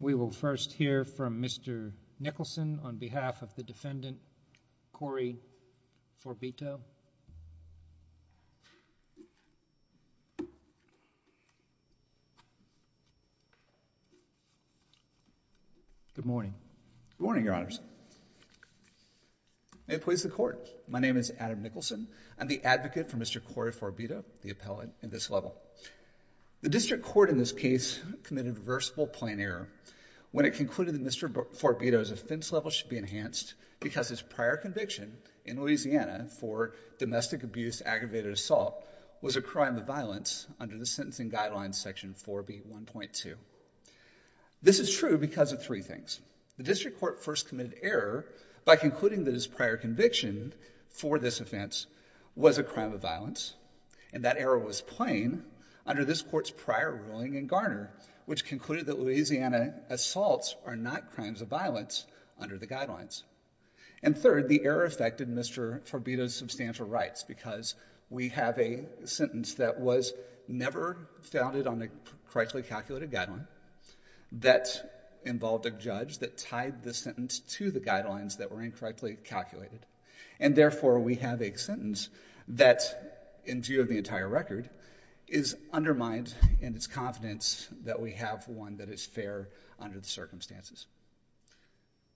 We will first hear from Mr. Nicholson on behalf of the defendant Cory Forbito. The District Court in this case committed a reversible plain error when it concluded that Mr. Forbito's offense level should be enhanced because his prior conviction in Louisiana for domestic abuse aggravated assault was a crime of violence under the sentencing guidelines section 4B1.2. This is true because of three things. The District Court first committed error by concluding that his prior conviction for this offense was a crime of violence and that error was plain under this court's prior ruling in Garner, which concluded that Louisiana assaults are not crimes of violence under the guidelines. And third, the error affected Mr. Forbito's substantial rights because we have a sentence that was never founded on a correctly calculated guideline that involved a judge that tied the sentence to the guidelines that were incorrectly calculated. And therefore, we have a sentence that in view of the entire record is undermined in its confidence that we have one that is fair under the circumstances.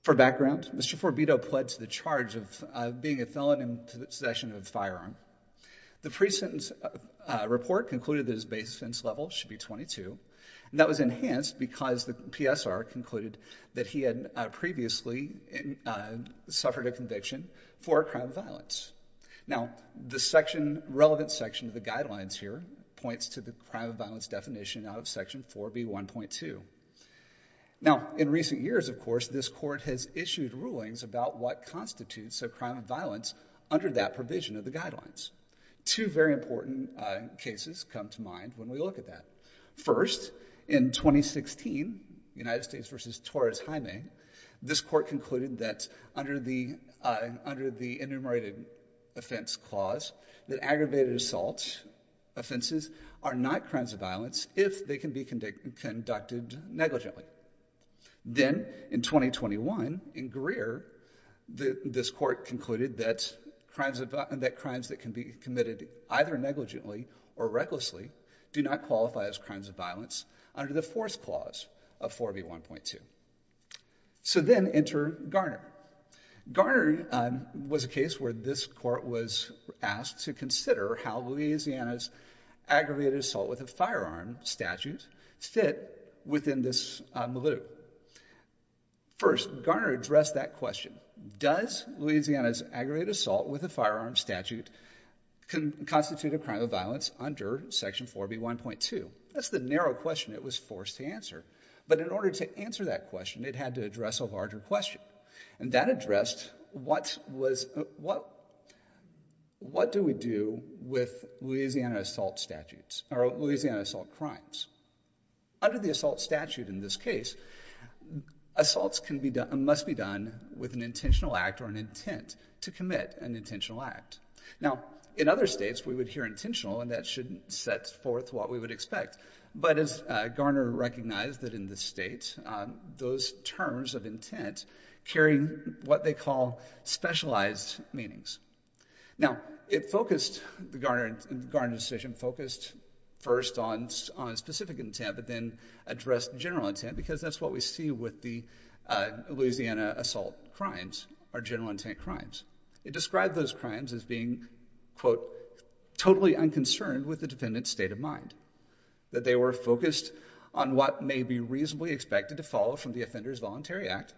For background, Mr. Forbito pled to the charge of being a felon in possession of a firearm. The pre-sentence report concluded that his base sentence level should be 22 and that was enhanced because the PSR concluded that he had previously suffered a conviction for a crime of violence. Now, the relevant section of the guidelines here points to the crime of violence definition out of section 4B1.2. Now, in recent years, of course, this court has issued rulings about what constitutes a crime of violence under that provision of the guidelines. Two very important cases come to mind when we look at that. First, in 2016, United States v. Torres-Jaime, this court concluded that under the enumerated offense clause that aggravated assault offenses are not crimes of violence if they can be conducted negligently. Then, in 2021, in Greer, this court concluded that crimes that can be committed either negligently or recklessly do not qualify as crimes of violence under the fourth clause of 4B1.2. So then enter Garner. Garner was a case where this court was asked to consider how Louisiana's aggravated assault with a firearm statute fit within this milieu. First, Garner addressed that question. Does Louisiana's aggravated assault with a firearm statute constitute a crime of violence under section 4B1.2? That's the narrow question it was forced to answer. But in order to answer that question, it had to address a larger question. And that addressed what do we do with Louisiana assault statutes or Louisiana assault crimes. Under the assault statute in this case, assaults must be done with an intentional act or an intent to commit an intentional act. Now, in other states, we would hear intentional and that shouldn't set forth what we would expect. But as Garner recognized that in this state, those terms of intent carry what they call specialized meanings. Now, it focused, the Garner decision, focused first on a specific intent but then addressed general intent because that's what we see with the Louisiana assault crimes are general intent crimes. It described those crimes as being, quote, totally unconcerned with the defendant's state of mind. That they were focused on what may be reasonably expected to follow from the offender's voluntary act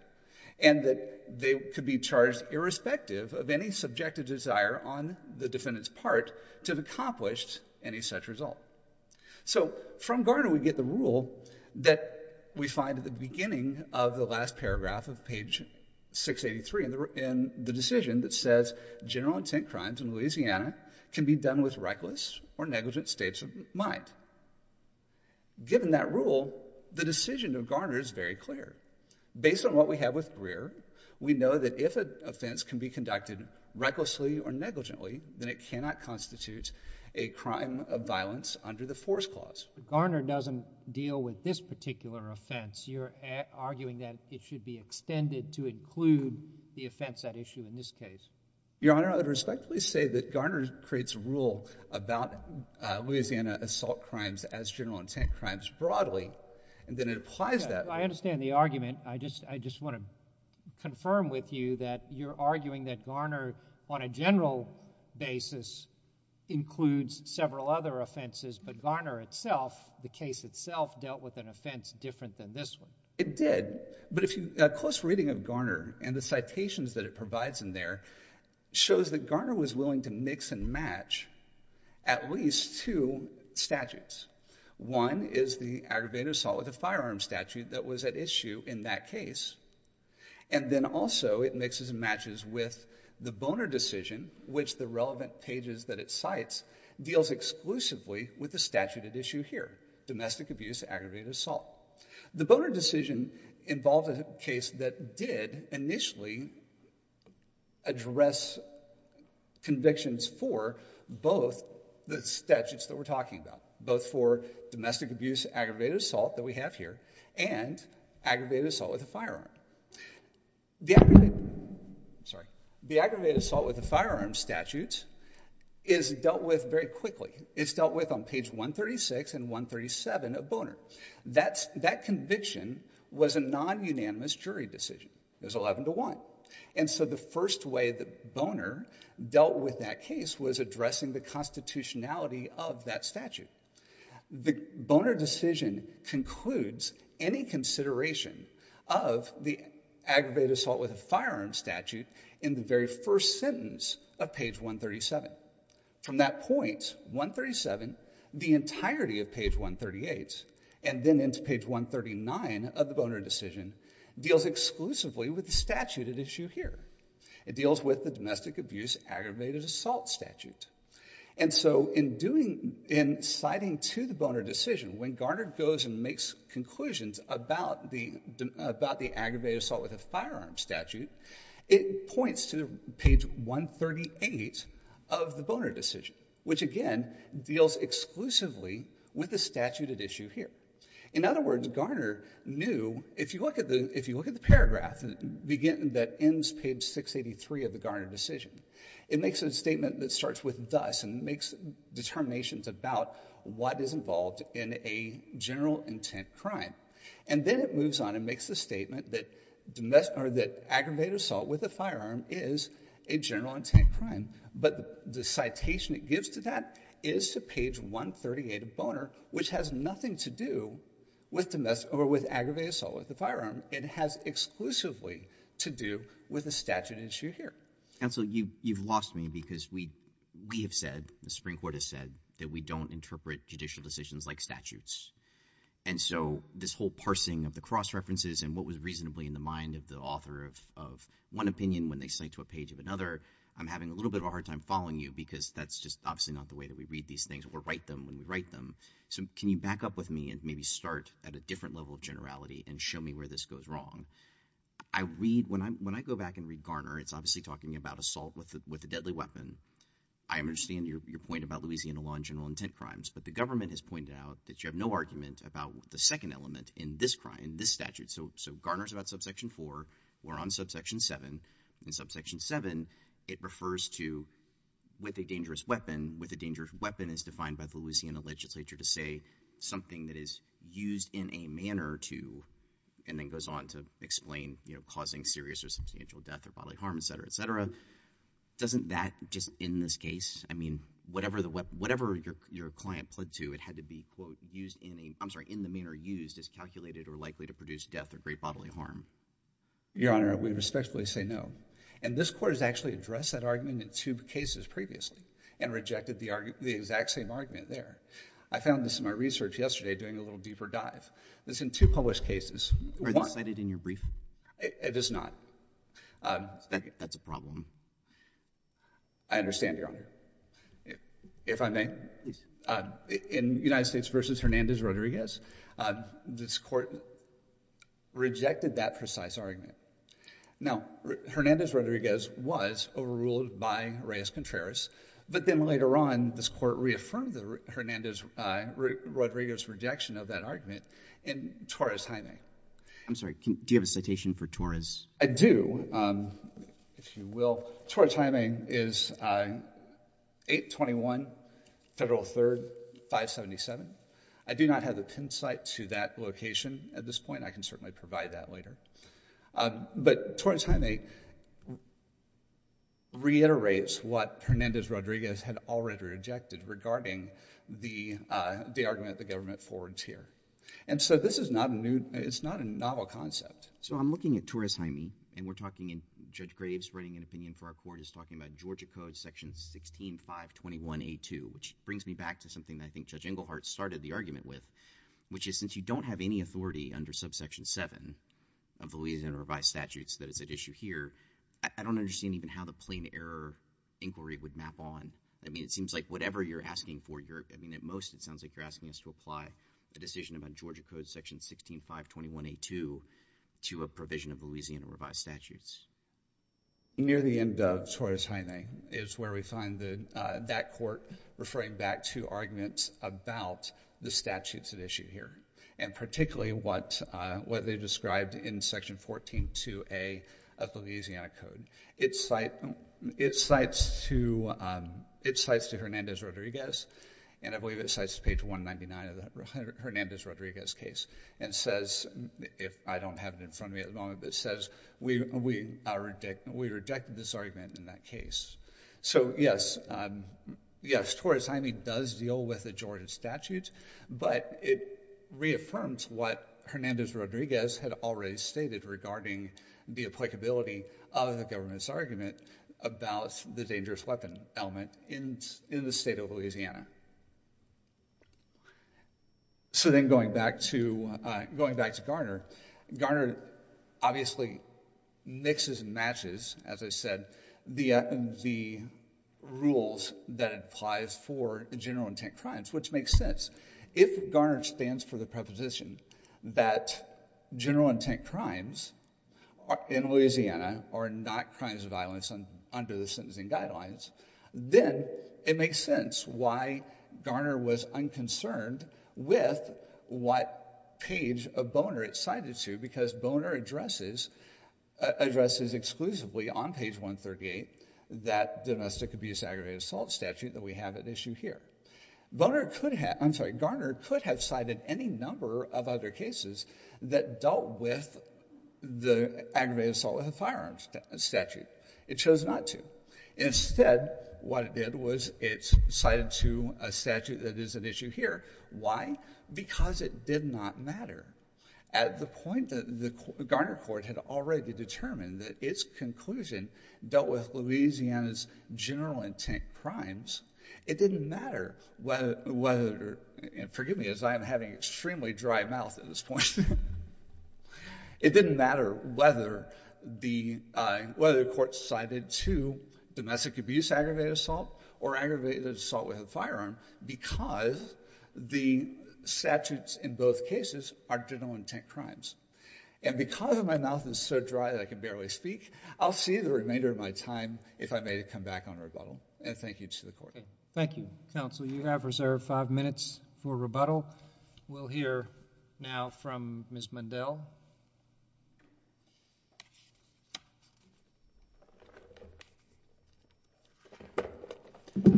and that they could be charged irrespective of any subjective desire on the defendant's part to have accomplished any such result. So from Garner, we get the rule that we find at the beginning of the last paragraph of page 683 in the decision that says general intent crimes in Louisiana can be done with reckless or negligent states of mind. Given that rule, the decision of Garner is very clear. Based on what we have with Greer, we know that if an offense can be conducted recklessly or negligently, then it cannot constitute a crime of violence under the force clause. But Garner doesn't deal with this particular offense. You're arguing that it should be extended to include the offense at issue in this case. Your Honor, I would respectfully say that Garner creates a rule about Louisiana assault crimes as general intent crimes broadly and then it applies that. I understand the argument. I just want to confirm with you that you're arguing that general basis includes several other offenses, but Garner itself, the case itself, dealt with an offense different than this one. It did. But a close reading of Garner and the citations that it provides in there shows that Garner was willing to mix and match at least two statutes. One is the aggravated assault with a firearm statute that was at issue in that case. And then also it mixes and matches with the Boner decision, which the relevant pages that it cites deals exclusively with the statute at issue here, domestic abuse, aggravated assault. The Boner decision involved a case that did initially address convictions for both the statutes that we're talking about, both for domestic abuse, aggravated assault that we have here, and aggravated assault with a firearm. The aggravated assault with a firearm statute is dealt with very quickly. It's dealt with on page 136 and 137 of Boner. That conviction was a non-unanimous jury decision. It was 11 to 1. And so the first way that Boner dealt with that case was addressing the constitutionality of that statute. The Boner decision concludes any consideration of the aggravated assault with a firearm statute in the very first sentence of page 137. From that point, 137, the entirety of page 138, and then into page 139 of the Boner decision, deals exclusively with the statute at issue here. It deals with the domestic abuse, aggravated assault statute. And so in citing to the Boner decision, when Garner goes and makes conclusions about the aggravated assault with a firearm statute, it points to page 138 of the Boner decision, which again deals exclusively with the statute at issue here. In other words, Garner knew if you look at the paragraph that ends page 683 of the Garner decision, it makes a statement that starts with thus and makes determinations about what is involved in a general intent crime. And then it moves on and makes the statement that aggravated assault with a firearm is a general intent crime. But the citation it gives to that is to page 138 of Boner, which has nothing to do with aggravated assault with a firearm. It has exclusively to do with the statute at issue here. Counsel, you've lost me because we have said, the Supreme Court has said, that we don't interpret judicial decisions like statutes. And so this whole parsing of the cross-references and what was reasonably in the mind of the author of one opinion when they cite to a page of another, I'm having a little bit of a hard time following you because that's just obviously not the way that we read these things or write them when we write them. So can you back up with me and maybe start at a different level of generality and show me where this I understand your point about Louisiana law and general intent crimes. But the government has pointed out that you have no argument about the second element in this crime, this statute. So Garner's about subsection 4. We're on subsection 7. In subsection 7, it refers to with a dangerous weapon. With a dangerous weapon is defined by the Louisiana legislature to say something that is used in a manner to, and then goes on to explain, you know, causing serious or substantial death or bodily harm, et cetera, et cetera. Doesn't that just in this case, I mean, whatever your client pled to, it had to be, quote, used in a, I'm sorry, in the manner used is calculated or likely to produce death or great bodily harm? Your Honor, we respectfully say no. And this court has actually addressed that argument in two cases previously and rejected the exact same argument there. I found this in my research yesterday doing a little deeper dive. It's in two published cases. Are they cited in your brief? It is not. That's a problem. I understand, Your Honor. If I may. In United States v. Hernandez-Rodriguez, this court rejected that precise argument. Now, Hernandez-Rodriguez was overruled by Reyes-Contreras. But then later on, this court reaffirmed the Hernandez-Rodriguez rejection of that argument in Torres-Jaime. I'm sorry. Do you have a citation for Torres? I do, if you will. Torres-Jaime is 821 Federal 3rd, 577. I do not have the pin site to that location at this point. I can certainly provide that later. But Torres-Jaime reiterates what the argument the government forwards here. And so this is not a novel concept. So I'm looking at Torres-Jaime. And we're talking in Judge Graves writing an opinion for our court is talking about Georgia Code section 16, 521A2, which brings me back to something that I think Judge Engelhardt started the argument with, which is since you don't have any authority under subsection 7 of the Louisiana revised statutes that is at issue here, I don't understand even how the plain error inquiry would map on. I mean, it seems like whatever you're asking for, I mean, at most it sounds like you're asking us to apply the decision about Georgia Code section 16, 521A2 to a provision of Louisiana revised statutes. Near the end of Torres-Jaime is where we find that court referring back to arguments about the statutes at issue here, and particularly what they described in section 14, 2A of the Hernandez-Rodriguez. And I believe it cites page 199 of the Hernandez-Rodriguez case and says, if I don't have it in front of me at the moment, but it says, we rejected this argument in that case. So yes, yes, Torres-Jaime does deal with the Georgia statutes, but it reaffirms what Hernandez-Rodriguez had already stated regarding the applicability of the dangerous weapon element in the state of Louisiana. So then going back to Garner, Garner obviously mixes and matches, as I said, the rules that applies for general intent crimes, which makes sense. If Garner stands for the proposition that general intent crimes in Louisiana are not crimes of violence under the sentencing guidelines, then it makes sense why Garner was unconcerned with what page of Boner it cited to, because Boner addresses exclusively on page 138 that domestic abuse aggravated assault statute that we have at issue here. Boner could have, I'm sorry, Garner could have cited any number of other cases that dealt with the aggravated assault with a firearm statute. It chose not to. Instead, what it did was it cited to a statute that is at issue here. Why? Because it did not matter. At the point that the Garner court had already determined that its conclusion dealt with Louisiana's general intent crimes, it didn't matter whether, and forgive me as I am having an extremely dry mouth at this point, it didn't matter whether the court cited to domestic abuse aggravated assault or aggravated assault with a firearm because the statutes in both cases are general intent crimes. And because my mouth is so dry that I can barely speak, I'll see the remainder of my time, if I may, to come back on rebuttal. And thank you to the court. Thank you, counsel. You have reserved five minutes for rebuttal. We'll hear now from Ms. Mundell. Good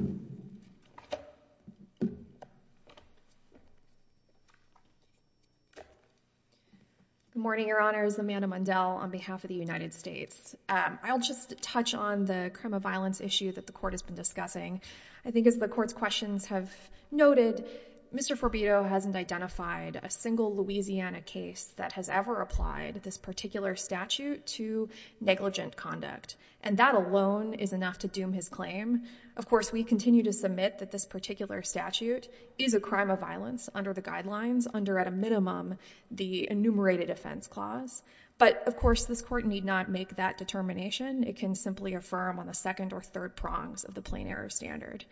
morning, Your Honors. Amanda Mundell on behalf of the United States. I'll just touch on the crime of violence issue that the court has been discussing. I think as the court's questions have noted, Mr. Forbido hasn't identified a single Louisiana case that has ever applied this particular statute to negligent conduct. And that alone is enough to doom his claim. Of course, we continue to submit that this particular statute is a crime of violence under the guidelines under, at a minimum, the enumerated offense clause. But of course, this court need not make that determination. It can simply affirm on the second or third prongs of the plain error standard.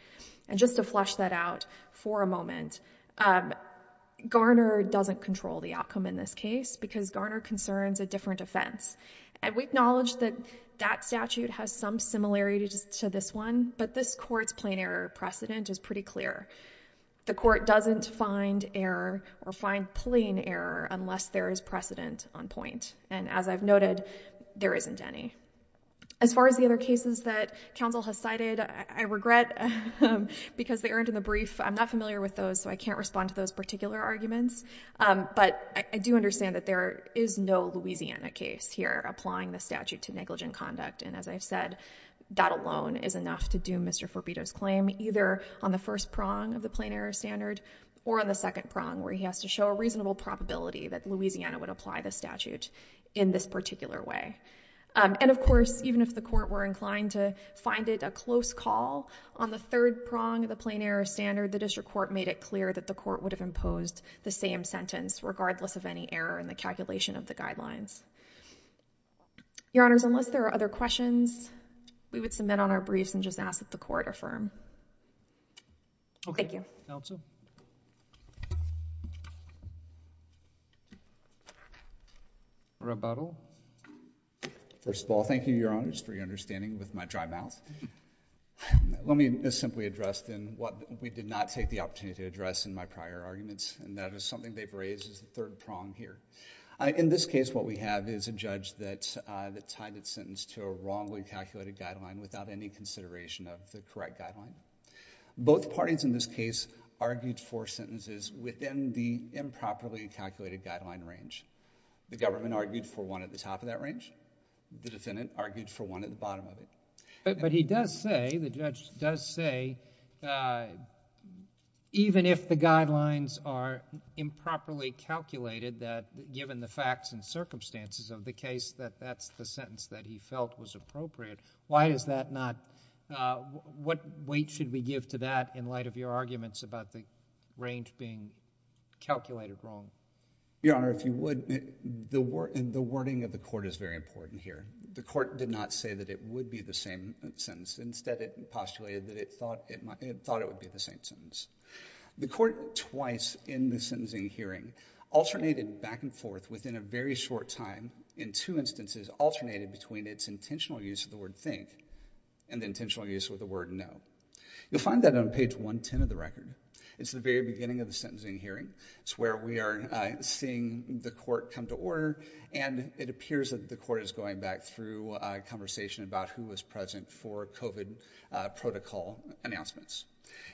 And just to flesh that out for a moment, Garner doesn't control the outcome in this case because Garner concerns a different offense. And we acknowledge that that statute has some similarities to this one, but this court's plain error precedent is pretty clear. The court doesn't find error or find plain error unless there is precedent on point. And as I've noted, there isn't any. As far as the other cases that counsel has cited, I regret because they aren't in the brief. I'm not familiar with those, so I can't respond to those particular arguments. But I do understand that there is no Louisiana case here applying the statute to negligent conduct. And as I've said, that alone is enough to do Mr. Forbido's claim, either on the first prong or on the second prong, where he has to show a reasonable probability that Louisiana would apply the statute in this particular way. And of course, even if the court were inclined to find it a close call on the third prong of the plain error standard, the district court made it clear that the court would have imposed the same sentence regardless of any error in the calculation of the guidelines. Your Honors, unless there are other questions, we would submit on our briefs and just ask that the court affirm. Thank you. Counsel? Rebuttal? First of all, thank you, Your Honors, for your understanding with my dry mouth. Let me simply address then what we did not take the opportunity to address in my prior arguments, and that is something they've raised as the third prong here. In this case, what we have is a judge that tied its sentence to a wrongly calculated guideline without any consideration of the correct guideline. Both parties in this case argued for sentences within the improperly calculated guideline range. The government argued for one at the top of that range. The defendant argued for one at the bottom of it. But he does say, the judge does say, even if the guidelines are improperly calculated, that given the facts and circumstances of the case, that that's the sentence that he should have. What weight should we give to that in light of your arguments about the range being calculated wrong? Your Honor, if you would, the wording of the court is very important here. The court did not say that it would be the same sentence. Instead, it postulated that it thought it would be the same sentence. The court twice in the sentencing hearing alternated back and forth within a very short time in two instances, alternated between its intentional use of the word think and the intentional use of the word know. You'll find that on page 110 of the record. It's the very beginning of the sentencing hearing. It's where we are seeing the court come to order. And it appears that the court is going back through a conversation about who was present for COVID protocol announcements.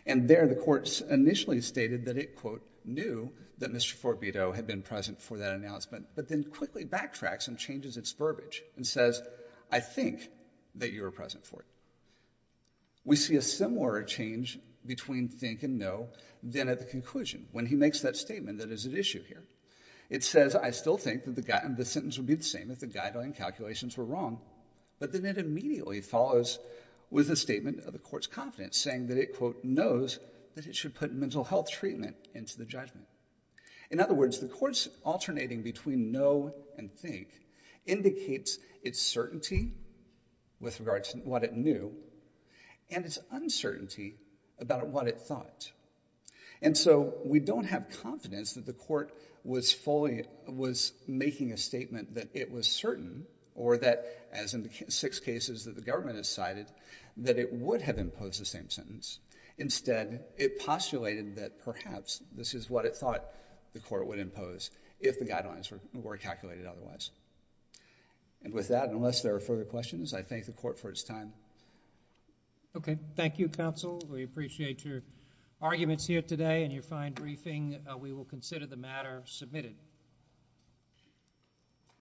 And there, the court initially stated that it, quote, knew that Mr. Forbido had been present for that announcement, but then quickly backtracks and changes its verbiage and says, I think that you were present for it. We see a similar change between think and know then at the conclusion, when he makes that statement that is at issue here. It says, I still think that the sentence would be the same if the guideline calculations were wrong, but then it immediately follows with a statement of the court's confidence, saying that it, quote, knows that it should put mental health treatment into the judgment. In other words, the court's alternating between know and think indicates its certainty with regards to what it knew and its uncertainty about what it thought. And so we don't have confidence that the court was making a statement that it was certain or that, as in the six cases that the government has cited, that it would have imposed the same sentence. Instead, it postulated that perhaps this is what it thought the court would impose if the guidelines were calculated otherwise. And with that, unless there are further questions, I thank the court for its time. Okay. Thank you, counsel. We appreciate your arguments here today and your fine briefing. We will consider the matter submitted.